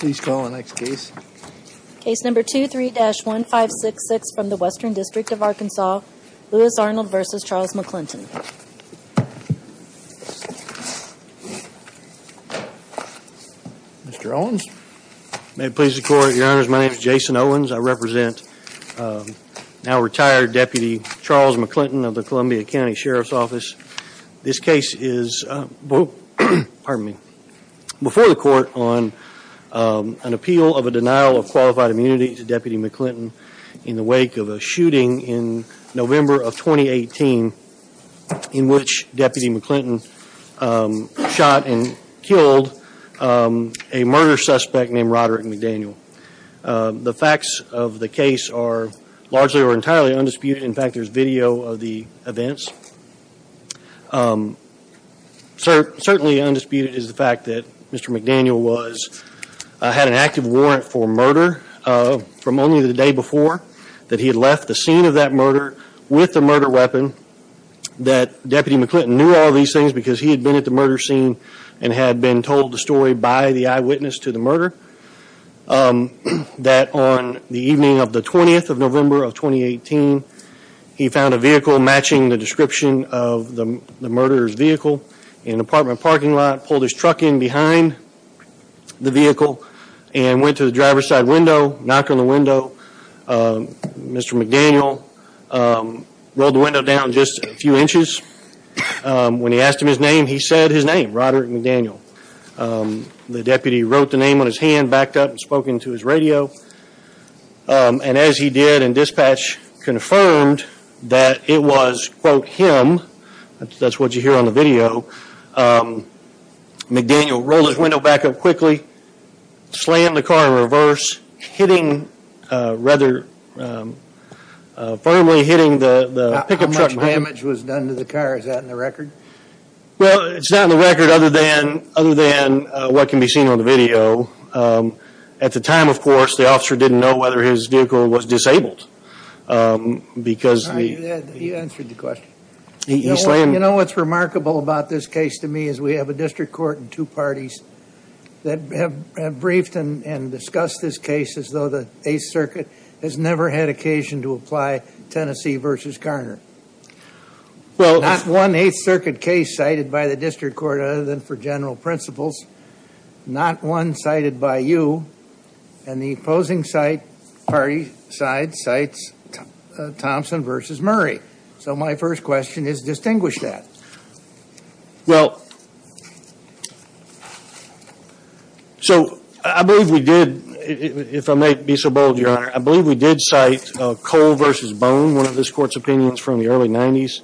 Please call the next case. Case number 23-1566 from the Western District of Arkansas, Louis Arnold v. Charles McClinton. Mr. Owens May it please the court, your honors, my name is Jason Owens. I represent now-retired Deputy Charles McClinton of the Columbia County Sheriff's Office. This case is before the court on an appeal of a denial of qualified immunity to Deputy McClinton in the wake of a shooting in November of 2018 in which Deputy McClinton shot and killed a murder suspect named Roderick McDaniel. The facts of the case are largely or entirely undisputed. In fact, there's video of the events. Certainly undisputed is the fact that Mr. McDaniel had an active warrant for murder from only the day before that he had left the scene of that murder with a murder weapon, that Deputy McClinton knew all these things because he had been at the murder scene and had been told the story by the eyewitness to the murder. That on the evening of the 20th of November of 2018, he found a vehicle matching the description of the murderer's vehicle in an apartment parking lot, pulled his truck in behind the and went to the driver's side window, knocked on the window. Mr. McDaniel rolled the window down just a few inches. When he asked him his name, he said his name, Roderick McDaniel. The deputy wrote the name on his hand, backed up and spoke into his radio. And as he did and dispatch confirmed that it was, quote, him, that's what you hear on the video, McDaniel rolled his window back up quickly, slammed the car in reverse, hitting rather firmly hitting the pickup truck. How much damage was done to the car? Is that in the record? Well, it's not in the record other than what can be seen on the video. At the time, of course, the officer didn't know whether his vehicle was disabled because he... He answered the question. He slammed... You know what's remarkable about this case to me is we have a district court and two parties that have briefed and discussed this case as though the 8th Circuit has never had occasion to apply Tennessee v. Garner. Not one 8th Circuit case cited by the district court other than for general principles, not one cited by you. And the opposing side, party side, cites Thompson v. Murray. So my first question is distinguish that. Well, so I believe we did, if I may be so bold, Your Honor, I believe we did cite Cole v. Bone, one of this court's opinions from the early 90s,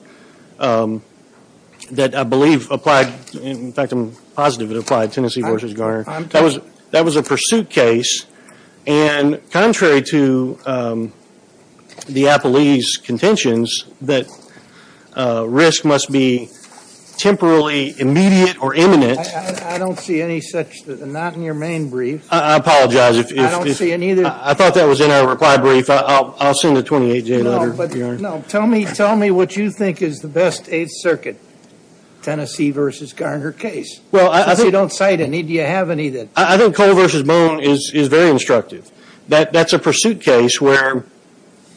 that I believe applied... In fact, I'm positive it applied, Tennessee v. Garner. That was a pursuit case. And contrary to the appellee's contentions, that risk must be temporally immediate or imminent. I don't see any such... Not in your main brief. I apologize if... I don't see any... I thought that was in our reply brief. I'll send a 28-J letter, Your Honor. No, tell me what you think is the best 8th Circuit Tennessee v. Garner case. Well, I... If you don't cite any, do you have any that... I think Cole v. Bone is very instructive. That's a pursuit case where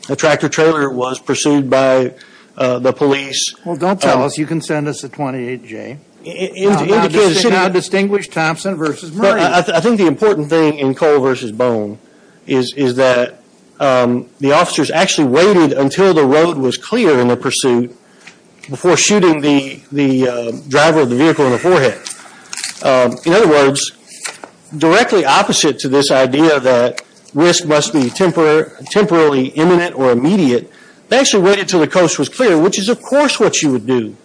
a tractor-trailer was pursued by the police. Well, don't tell us. You can send us a 28-J. Indicate a city... Distinguish Thompson v. Murray. I think the important thing in Cole v. Bone is that the officers actually waited until the road was clear in the pursuit before shooting the driver of the vehicle in the forehead. In other words, directly opposite to this idea that risk must be temporarily imminent or immediate, they actually waited until the coast was clear, which is, of course, what you would do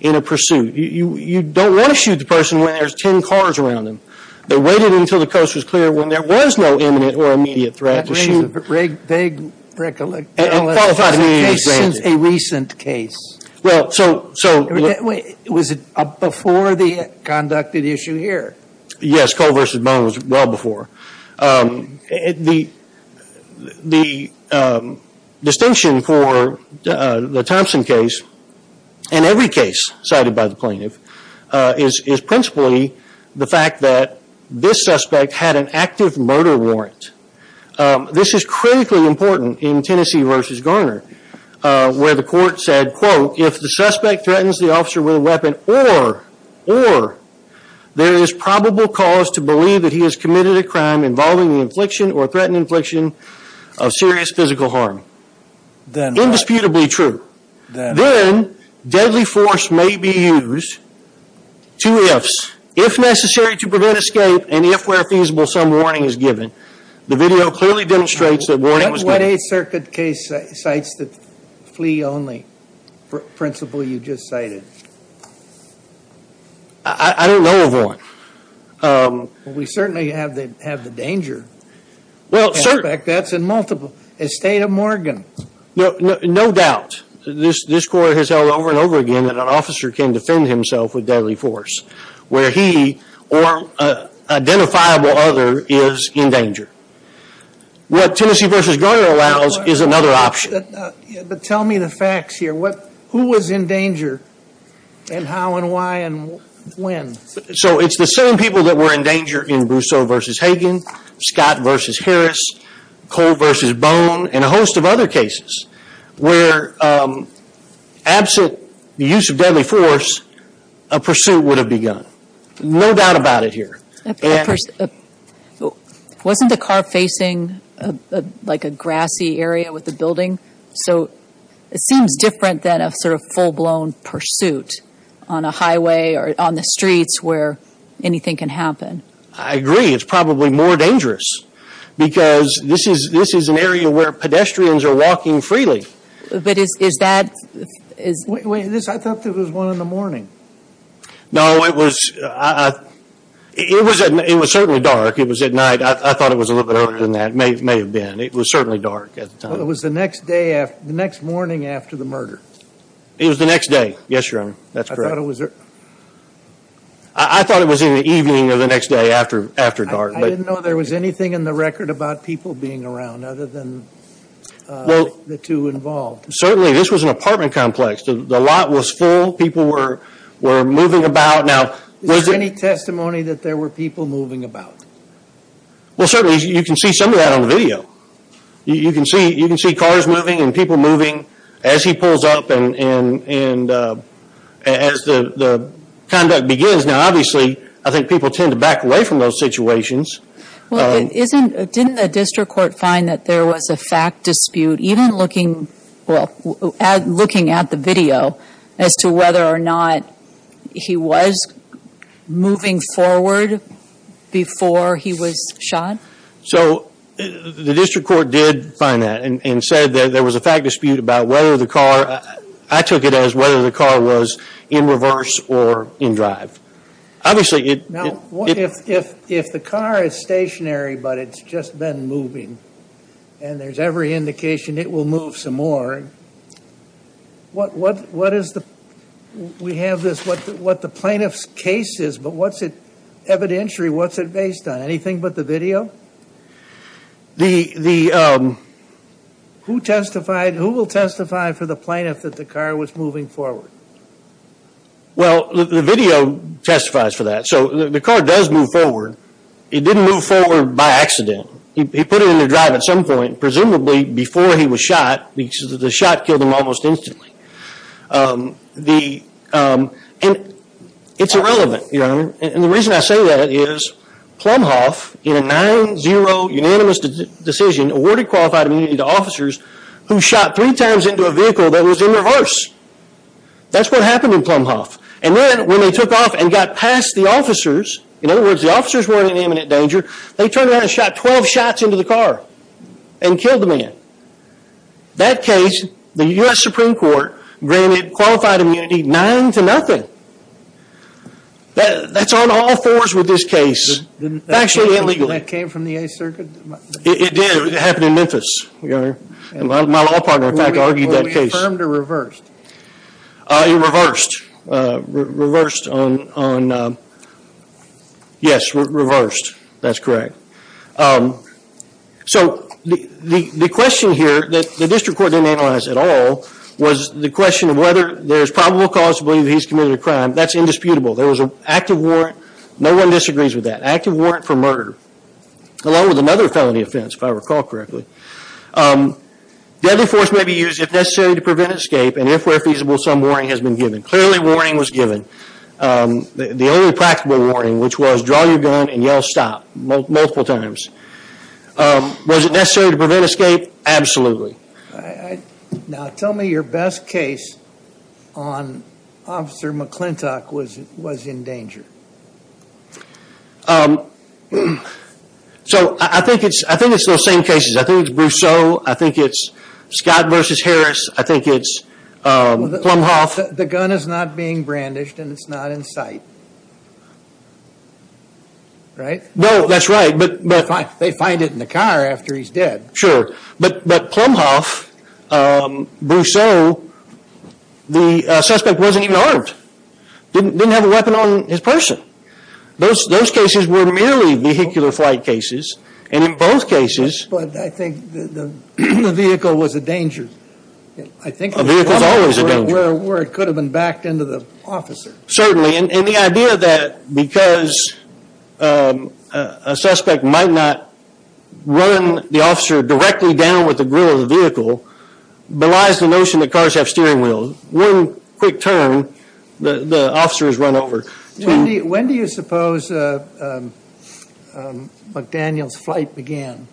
in a pursuit. You don't want to shoot the person when there's 10 cars around them. They waited until the coast was clear when there was no imminent or immediate threat to shoot. Vague recollection. It's been a case since a recent case. Well, so... Was it before the conducted issue here? Yes, Cole v. Bone was well before. The distinction for the Thompson case and every case cited by the plaintiff is principally the fact that this suspect had an active murder warrant. This is critically important in Tennessee v. Garner, where the court said, quote, if the suspect threatens the officer with a weapon or there is probable cause to believe that he has committed a crime involving the infliction or threatened infliction of serious physical harm. Indisputably true. Then deadly force may be used to if necessary to prevent escape and if where feasible some warning is given. The video clearly demonstrates that flee only principle you just cited. I don't know of one. We certainly have the danger. Well, certainly. In fact, that's in multiple. In the state of Morgan. No doubt. This court has held over and over again that an officer can defend himself with deadly force where he or an identifiable other is in danger. What Tennessee v. Garner allows is another option. But tell me the facts here. Who was in danger and how and why and when? So it's the same people that were in danger in Brousseau v. Hagen, Scott v. Harris, Cole v. Bone and a host of other cases where absent the use of deadly force, a pursuit would have begun. No doubt about it here. Wasn't the car facing like a grassy area with the buildings? So it seems different than a sort of full blown pursuit on a highway or on the streets where anything can happen. I agree. It's probably more dangerous because this is this is an area where pedestrians are walking freely. But is that is this I thought it was one in the morning. No, it was. It was it was certainly dark. It was at night. I thought it was a man. It was certainly dark at the time. It was the next day, the next morning after the murder. It was the next day. Yes, your honor. That's correct. I thought it was. I thought it was in the evening or the next day after after dark. I didn't know there was anything in the record about people being around other than the two involved. Certainly this was an apartment complex. The lot was full. People were were moving about. Now, was there any testimony that there were people moving about? Well, certainly you can see some of that on the video. You can see you can see cars moving and people moving as he pulls up and as the conduct begins. Now, obviously, I think people tend to back away from those situations. Well, it isn't. Didn't the district court find that there was a fact dispute even looking at looking at the video as to whether or not he was moving forward before he was shot? So the district court did find that and said that there was a fact dispute about whether the car I took it as whether the car was in reverse or in drive. Obviously, if if if the car is stationary, but it's just been moving and there's every indication it will move some more. What what what is the we have this what what the plaintiff's case is, but what's it evidentiary? What's it based on? Anything but the video? The the who testified who will testify for the plaintiff that the car was moving forward? Well, the video testifies for that. So the car does move forward. It didn't move forward by accident. He put it in the drive at some point, presumably before he was shot because the shot killed him almost instantly. The and it's irrelevant. And the reason I say that is Plumhoff in a nine zero unanimous decision awarded qualified immunity to officers who shot three times into a vehicle that was in reverse. That's what happened in Plumhoff. And then when they took off and got past the officers, in other words, the officers weren't in imminent danger. They were in court, granted qualified immunity, nine to nothing. That's on all fours with this case. It's actually illegal. That came from the 8th Circuit? It did. It happened in Memphis. My law partner, in fact, argued that case. Were we affirmed or reversed? Reversed. Reversed on on. Yes, reversed. That's correct. So the question here that the district court didn't analyze at all was the question of whether there's probable cause to believe he's committed a crime. That's indisputable. There was an active warrant. No one disagrees with that active warrant for murder, along with another felony offense, if I recall correctly. Deadly force may be used if necessary to prevent escape. And if we're feasible, some warning has been given. Clearly, warning was given. The only practical warning, which was draw your gun and yell stop multiple times. Was it necessary to prevent escape? Absolutely. Now, tell me your best case on Officer McClintock was was in danger. So I think it's I think it's those same cases. I think it's Brousseau. I think it's Scott versus Harris. I think it's Plumhoff. The gun is not being brandished and it's not in sight. Right. No, that's right. But they find it in the car after he's dead. Sure. But but Plumhoff, Brousseau, the suspect wasn't even armed, didn't have a weapon on his person. Those cases were merely vehicular flight cases. And in both cases. But I think the vehicle was a danger. I think a vehicle is always a danger. Where it could have been backed into the officer. Certainly. And the idea that because a suspect might not run the officer directly down with the grill of the vehicle, belies the notion that cars have steering wheels. One quick turn, the officer is run over. When do you suppose McDaniel's flight began?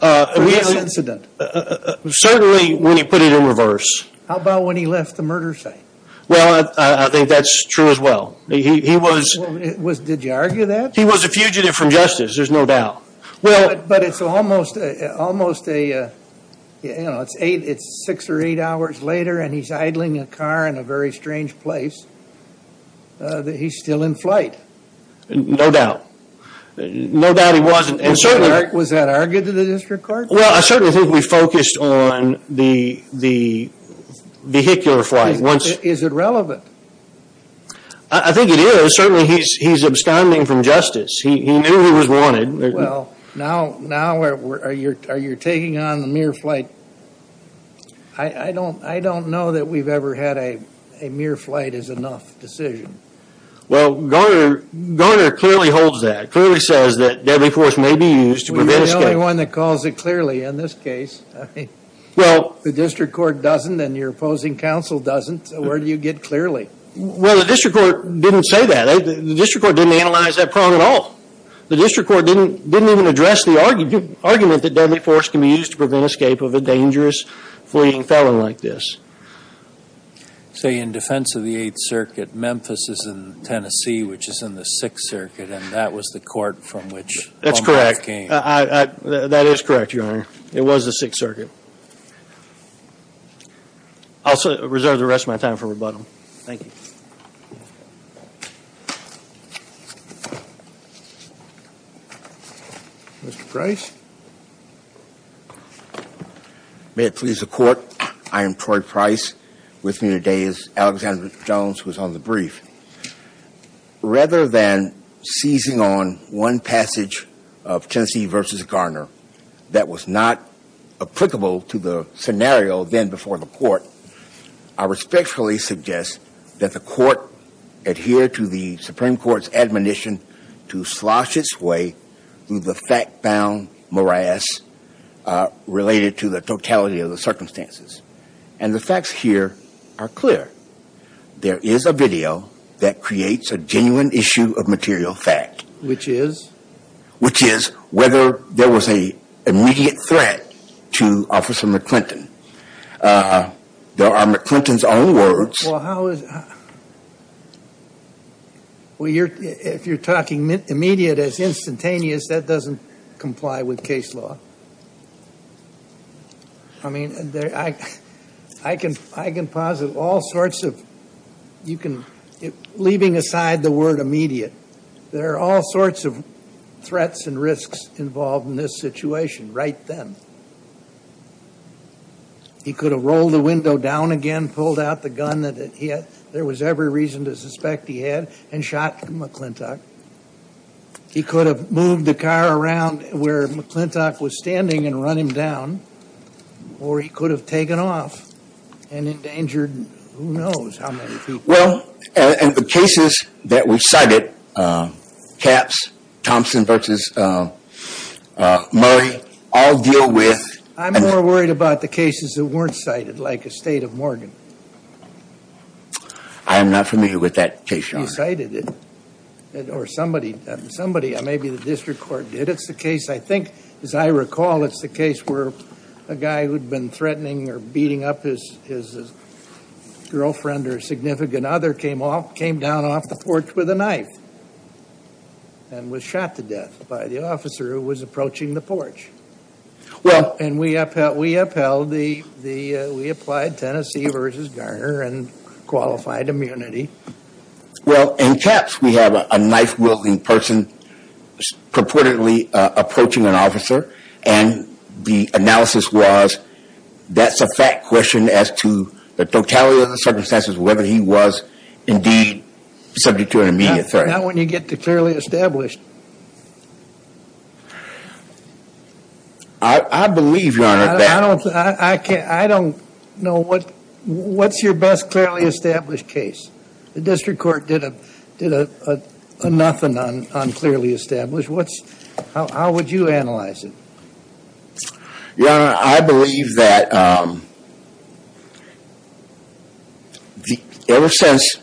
This incident? Certainly when he put it in reverse. How about when he left the murder site? Well, I think that's true as well. He was it was. Did you argue that he was a fugitive from justice? There's no doubt. Well, but it's almost almost a, you know, it's eight, it's six or eight hours later and he's idling a car in a very strange place. He's still in flight. No doubt. No doubt he wasn't. And so was that argued to the district court? Well, I certainly think we focused on the the vehicular flight once. Is it relevant? I think it is. Certainly he's he's absconding from justice. He knew he was wanted. Well, now now where are you? Are you taking on the mere flight? I don't I don't know that we've ever had a a mere flight is enough decision. Well, Garner Garner clearly holds that clearly says that deadly force may be used to prevent escape. You're the only one that calls it clearly in this case. Well, the district court doesn't and your opposing counsel doesn't. So where do you get clearly? Well, the district court didn't say that. The district court didn't analyze that prong at all. The district court didn't didn't even address the argument that deadly force can be used to prevent escape of a dangerous fleeing felon like this. Say in defense of the Eighth Circuit, Memphis is in Tennessee, which is in the Sixth Circuit. And that was the court from which that's correct. That is correct. Your honor. It was the Sixth Circuit. Thank you for your time for rebuttal. Thank you. Mr. Price. May it please the court. I am Troy Price with me today as Alexander Jones was on the brief. Rather than seizing on one passage of Tennessee versus Garner, that was not applicable to the scenario then before the court, I respectfully suggest that the court adhere to the Supreme Court's admonition to slosh its way through the fact-bound morass related to the totality of the circumstances. And the facts here are clear. There is a video that creates a genuine issue of material fact. Which is? Which is whether there was a immediate threat to Officer McClinton. There are McClinton's own words. Well, if you're talking immediate as instantaneous, that doesn't comply with case law. I mean, I can I can posit all sorts of you can leaving aside the word immediate. There are all sorts of threats and risks involved in this situation right then. He could have rolled the window down again, pulled out the gun that it hit. There was every reason to suspect he had and shot McClintock. He could have moved the car around where McClintock was standing and run him down. Or he could have taken off and endangered who knows how many people. Well, and the cases that we cited, Capps, Thompson versus Murray, all deal with. I'm more worried about the cases that weren't cited, like a state of Morgan. I am not familiar with that case, Your Honor. He cited it. Or somebody, somebody, maybe the district court did. It's the case, I think, as I recall, it's the case where a guy who'd been threatening or beating up his his girlfriend or significant other came off, came down off the porch with a knife. And was shot to death by the officer who was approaching the porch. Well, and we upheld, we upheld the the we applied Tennessee versus Garner and qualified immunity. Well, in Capps, we have a knife wielding person purportedly approaching an officer. And the analysis was that's a fact question as to the totality of the circumstances, whether he was indeed subject to an immediate threat. Not when you get to clearly established. I believe, Your Honor, that. I don't, I can't, I don't know what, what's your best clearly established case? The district court did a, a nothing on, on clearly established. What's, how, how would you analyze it? Your Honor, I believe that ever since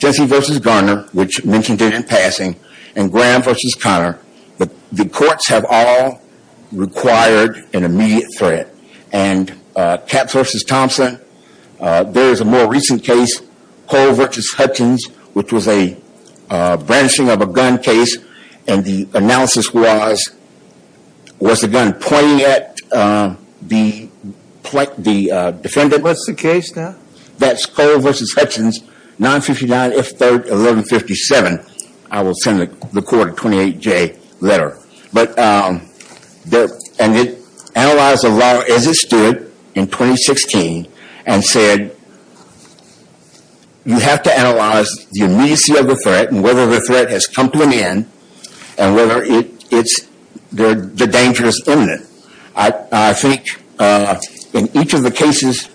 Tennessee versus Garner, which mentioned it in passing, and Graham versus Connor, the courts have all required an immediate threat. And Capps versus Garner is a branching of a gun case. And the analysis was, was the gun pointing at the, the defendant? What's the case now? That's Cole versus Hutchins, 959 F3rd 1157. I will send the court a 28-J letter. But, and it analyzed the law as it stood in 2016 and said, you have to analyze the immediacy of the threat and whether the threat has come to an end and whether it, it's, the, the danger is imminent. I, I think in each of the cases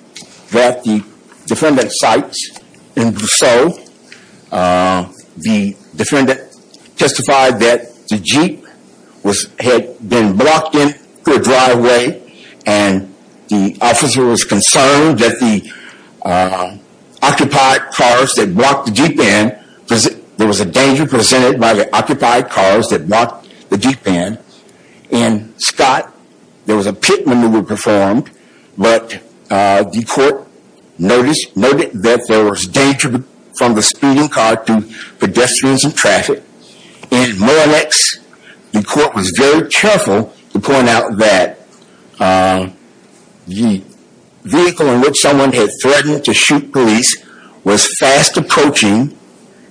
that the defendant cites in Vasseau, the defendant testified that the Jeep was, had been blocked into a driveway and the officer was concerned that the occupied cars that blocked the Jeep in, there was a danger presented by the occupied cars that blocked the Jeep in. In Scott, there was a pit maneuver performed, but the court noticed, noted that there was danger from the speeding car to pedestrians and traffic. In Morallex, the court was very careful to point out that the vehicle in which someone had threatened to shoot police was fast approaching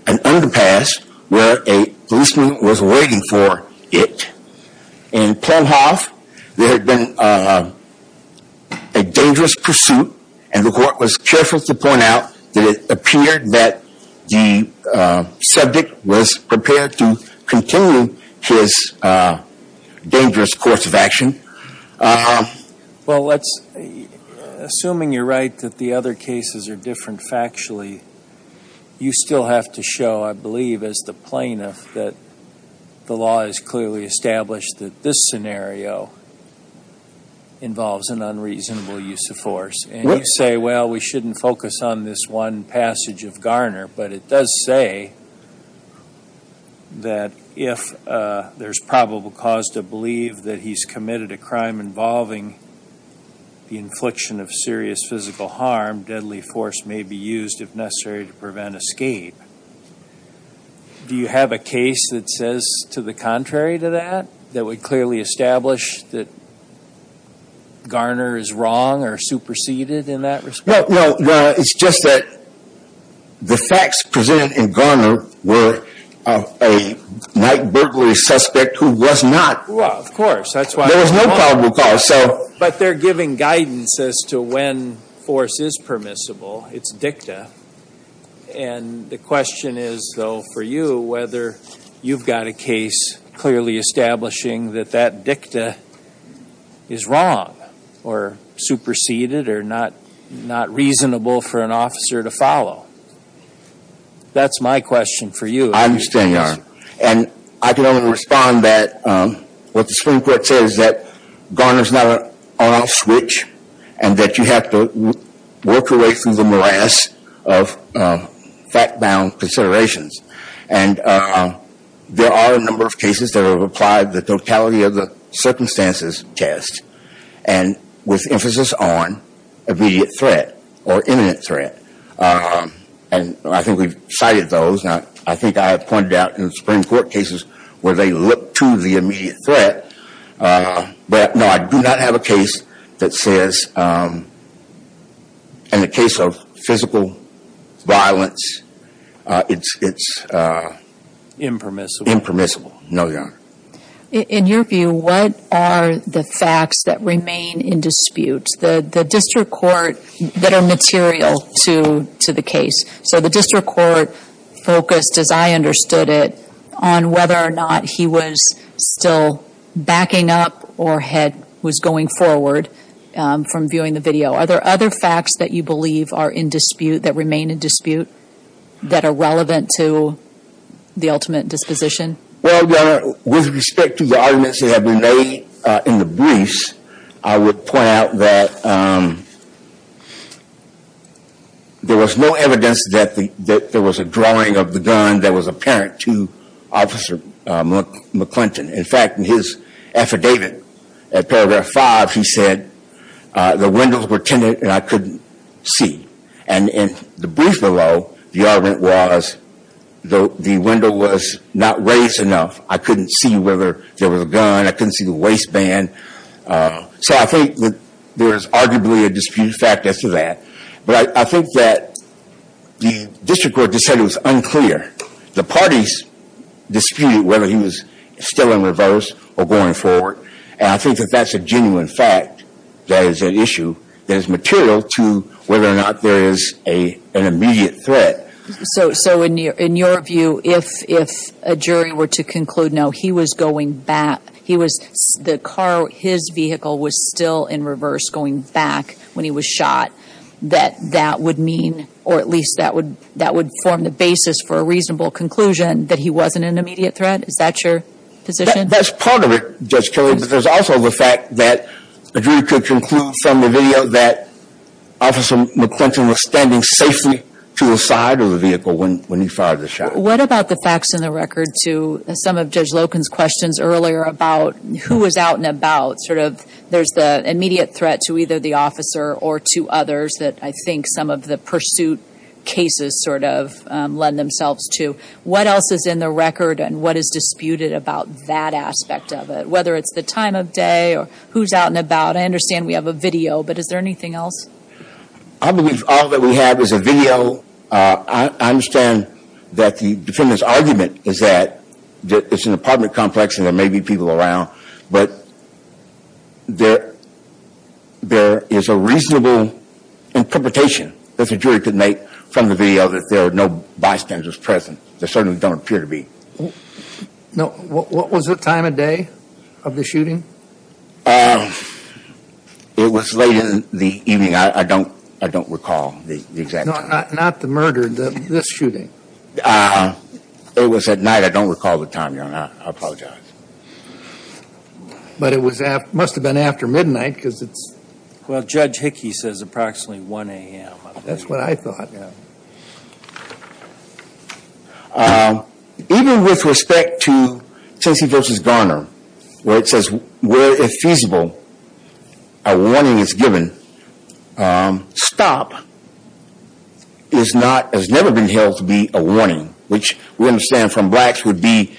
an underpass where a policeman was waiting for it. In Plenhoff, there had been a dangerous pursuit and the court was careful to point out that it appeared that the subject was prepared to continue his dangerous course of action. Well, let's, assuming you're right that the other cases are different factually, you still have to show, I believe, as the plaintiff that the law is clearly established that this scenario involves an unreasonable use of force. And you say, well, we shouldn't focus on this one passage of Garner, but it does say that if there's probable cause to believe that he's committed a crime involving the infliction of serious physical harm, deadly force may be used if necessary to prevent escape. Do you have a case that says to the contrary to that, that would clearly establish that Garner is wrong or superseded in that respect? No, it's just that the facts presented in Garner were of a night burglary suspect who was not. Well, of course, that's why. There was no probable cause, so. But they're giving guidance as to when force is permissible, it's dicta. And the question is, though, for you, whether you've got a case clearly establishing that that dicta is wrong or superseded or not reasonable for an officer to follow. That's my question for you. I understand, Your Honor. And I can only respond that what the Supreme Court says is that Garner is not an on-off switch and that you have to work your way through the morass of fact-bound considerations. And there are a number of cases that have applied the totality of the circumstances test and with emphasis on immediate threat or imminent threat. And I think we've cited those. Now, I think I have pointed out in the Supreme Court cases where they look to the immediate threat. But no, I do not have a case that says, in the case of physical violence, it's impermissible. No, Your Honor. In your view, what are the facts that remain in dispute, the district court, that are material to the case? So the district court focused, as I understood it, on whether or not he was still backing up or was going forward from viewing the video. Are there other facts that you believe are in dispute, that remain in dispute, that are relevant to the ultimate disposition? Well, Your Honor, with respect to the arguments that have been made in the briefs, I would point out that there was no evidence that there was a drawing of the gun that was apparent to Officer McClinton. In fact, in his affidavit at paragraph five, he said, the windows were tinted and I couldn't see. And in the brief below, the argument was the window was not raised enough. I couldn't see whether there was a gun. I couldn't see the waistband. So I think that there is arguably a disputed fact as to that. But I think that the district court just said it was unclear. The parties disputed whether he was still in reverse or going forward. And I think that that's a genuine fact that is an issue that is material to whether or not there is an immediate threat. So in your view, if a jury were to conclude, no, he was going back, the car, his vehicle was still in reverse going back when he was shot, that that would mean, or at least that would form the basis for a reasonable conclusion that he wasn't an immediate threat? Is that your position? That's part of it, Judge Kelly. But there's also the fact that a jury could conclude from the video that Officer McClinton was standing safely to the side of the vehicle when he fired the shot. What about the facts in the record to some of Judge Loken's questions earlier about who was out and about? Sort of there's the immediate threat to either the officer or to others that I think some of the pursuit cases sort of lend themselves to. What else is in the record and what is disputed about that aspect of it, whether it's the time of day or who's out and about? I understand we have a video, but is there anything else? I believe all that we have is a video. I understand that the defendant's argument is that it's an apartment complex and there may be people around, but there is a reasonable interpretation that the jury could make from the video that there are no bystanders present. There certainly don't appear to be. No. What was the time of day of the shooting? It was late in the evening. I don't recall the exact time. Not the murder, this shooting. It was at night. I don't recall the time, Your Honor. I apologize. But it must have been after midnight because it's... Well, Judge Hickey says approximately 1 a.m. That's what I thought. Even with respect to Stacey v. Garner, where it says, where if feasible, a warning is given. Stop has never been held to be a warning, which we understand from blacks would be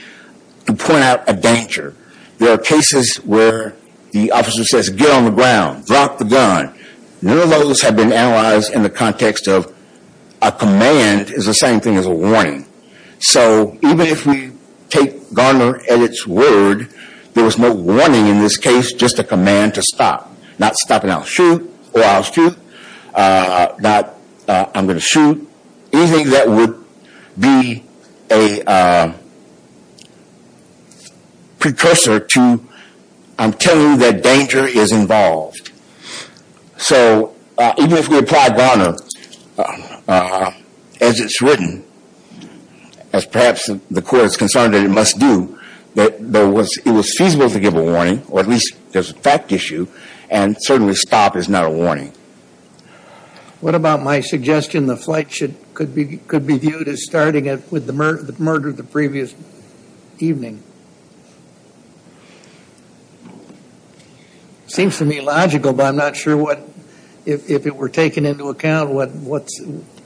to point out a danger. There are cases where the officer says, get on the ground, drop the gun. None of those have been analyzed in the context of a command is the same thing as a warning. So even if we take Garner at its word, there was no warning in this case, just a command to stop. Not stop and I'll shoot, or I'll shoot, not I'm going to shoot. Anything that would be a precursor to I'm telling you that danger is involved. So even if we apply Garner as it's written, as perhaps the court is concerned that it must do, that it was feasible to give a warning, or at least there's a fact issue, and certainly stop is not a warning. What about my suggestion the flight could be viewed as starting with the murder of the previous evening? It seems to me logical, but I'm not sure what, if it were taken into account, what, what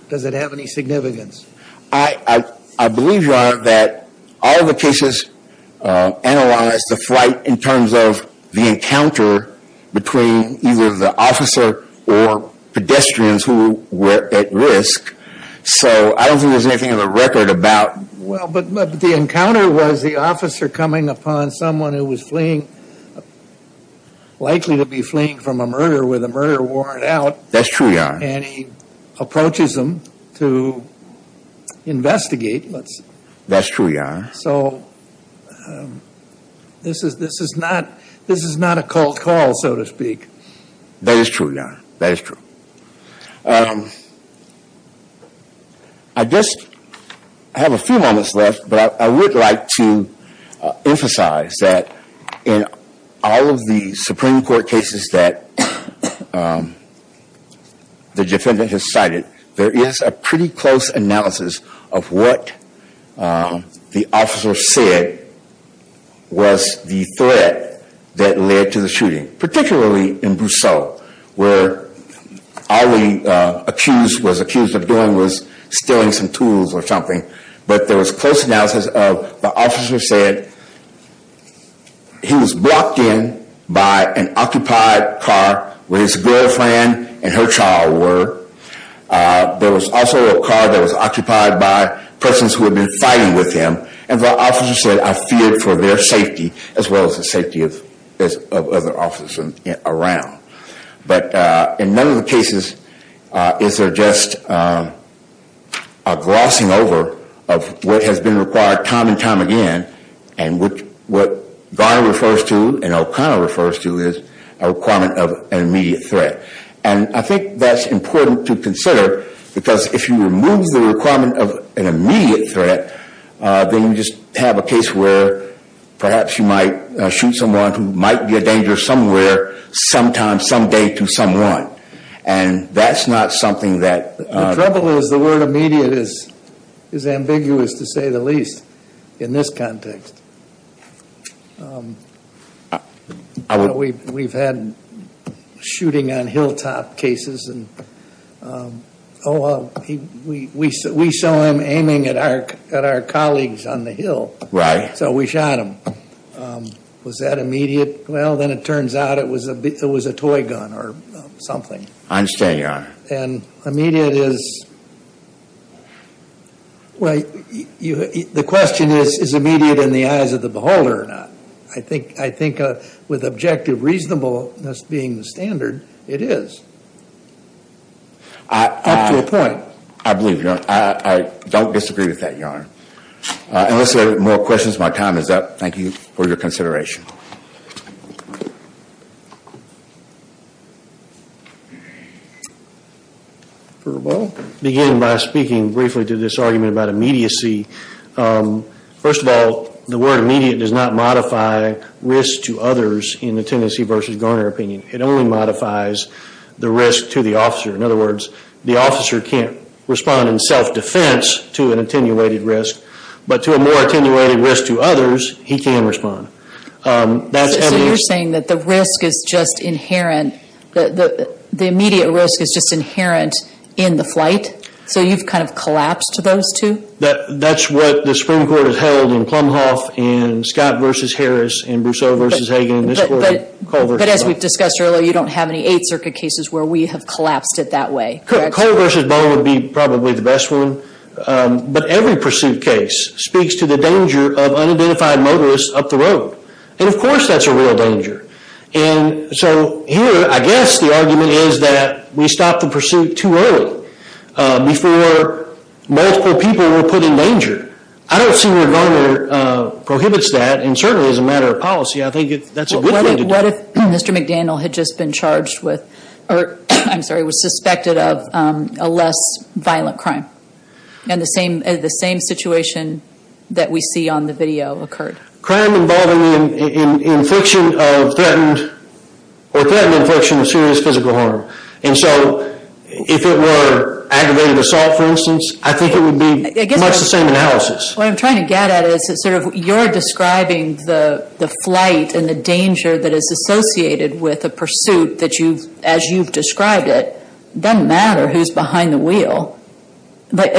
does it have any significance? I, I believe, Your Honor, that all the cases analyzed the flight in terms of the encounter between either the officer or pedestrians who were at risk. So I don't think there's anything in the record about. Well, but, but the encounter was the officer coming upon someone who was fleeing, likely to be fleeing from a murder with a murder warrant out. That's true, Your Honor. And he approaches them to investigate. Let's. That's true, Your Honor. So this is, this is not, this is not a cold call, so to speak. That is true, Your Honor. That is true. I just have a few moments left, but I would like to emphasize that in all of the Supreme Court cases that the defendant has cited, there is a pretty close analysis of what the officer said was the threat that led to the shooting, particularly in Brousseau, where all the accused was accused of doing was stealing some tools or something. But there was close analysis of the officer said he was blocked in by an occupied car where his girlfriend and her child were. There was also a car that was occupied by persons who had been fighting with him. And the officer said, I feared for their safety as well as the safety of other officers around. But in none of the cases is there just a glossing over of what has been required time and time again. And what Garner refers to and O'Connor refers to is a requirement of an immediate threat. And I think that's important to consider because if you remove the requirement of an immediate threat, then you just have a case where perhaps you might shoot someone who might be a danger somewhere, sometime, someday to someone. And that's not something that... The trouble is the word immediate is ambiguous to say the least in this context. We've had shooting on hilltop cases and we saw him aiming at our colleagues on the hill. Right. So we shot him. Was that immediate? Well, then it turns out it was a toy gun or something. I understand, Your Honor. And immediate is... Well, the question is, is immediate in the eyes of the beholder or not? I think with objective reasonableness being the standard, it is. Up to a point. I believe you. I don't disagree with that, Your Honor. Unless there are more questions, my time is up. Thank you for your consideration. Begin by speaking briefly to this argument about immediacy. First of all, the word immediate does not modify risk to others in the Tennessee versus Garner opinion. It only modifies the risk to the officer. In other words, the officer can't respond in self-defense to an attenuated risk, but to a more attenuated risk to others, he can respond. So you're saying that the risk is just inherent, the immediate risk is just inherent in the flight? So you've kind of collapsed those two? That's what the Supreme Court has held in Plumhoff and Scott versus Harris and Brousseau versus Hagan. But as we've discussed earlier, you don't have any Eighth Circuit cases where we have collapsed it that way. Correct? Cole versus Bowe would be probably the best one. But every pursuit case speaks to the danger of unidentified motorists up the road. And of course, that's a real danger. And so here, I guess the argument is that we stop the pursuit too early before multiple people were put in danger. I don't see where Garner prohibits that, and certainly as a matter of policy, I think that's a good thing to do. What if Mr. McDaniel had just been charged with, or I'm sorry, was suspected of a less violent crime? And the same situation that we see on the video occurred? Crime involving the infliction of threatened, or threatened infliction of serious physical harm. And so if it were aggravated assault, for instance, I think it would be much the same analysis. What I'm trying to get at is sort of you're describing the flight and the danger that is associated with a pursuit that you've, as you've described it, doesn't matter who's behind the wheel. But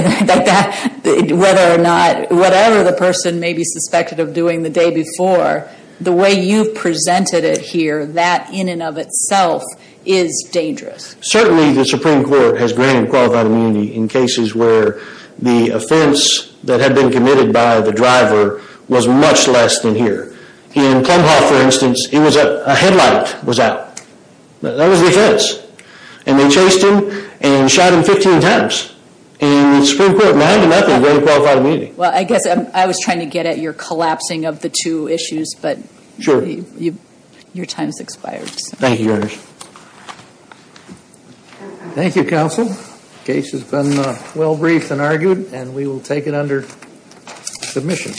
whether or not, whatever the person may be suspected of doing the day before, the way you've presented it here, that in and of itself is dangerous. Certainly, the Supreme Court has granted qualified immunity in cases where the offense that had been committed by the driver was much less than here. In Plum Hall, for instance, a headlight was out. That was the offense. And they chased him and shot him 15 times. And the Supreme Court, now, granted qualified immunity. Well, I guess I was trying to get at your collapsing of the two issues, but your time has expired. Thank you, Your Honor. Thank you, counsel. Case has been well briefed and argued, and we will take it under submission.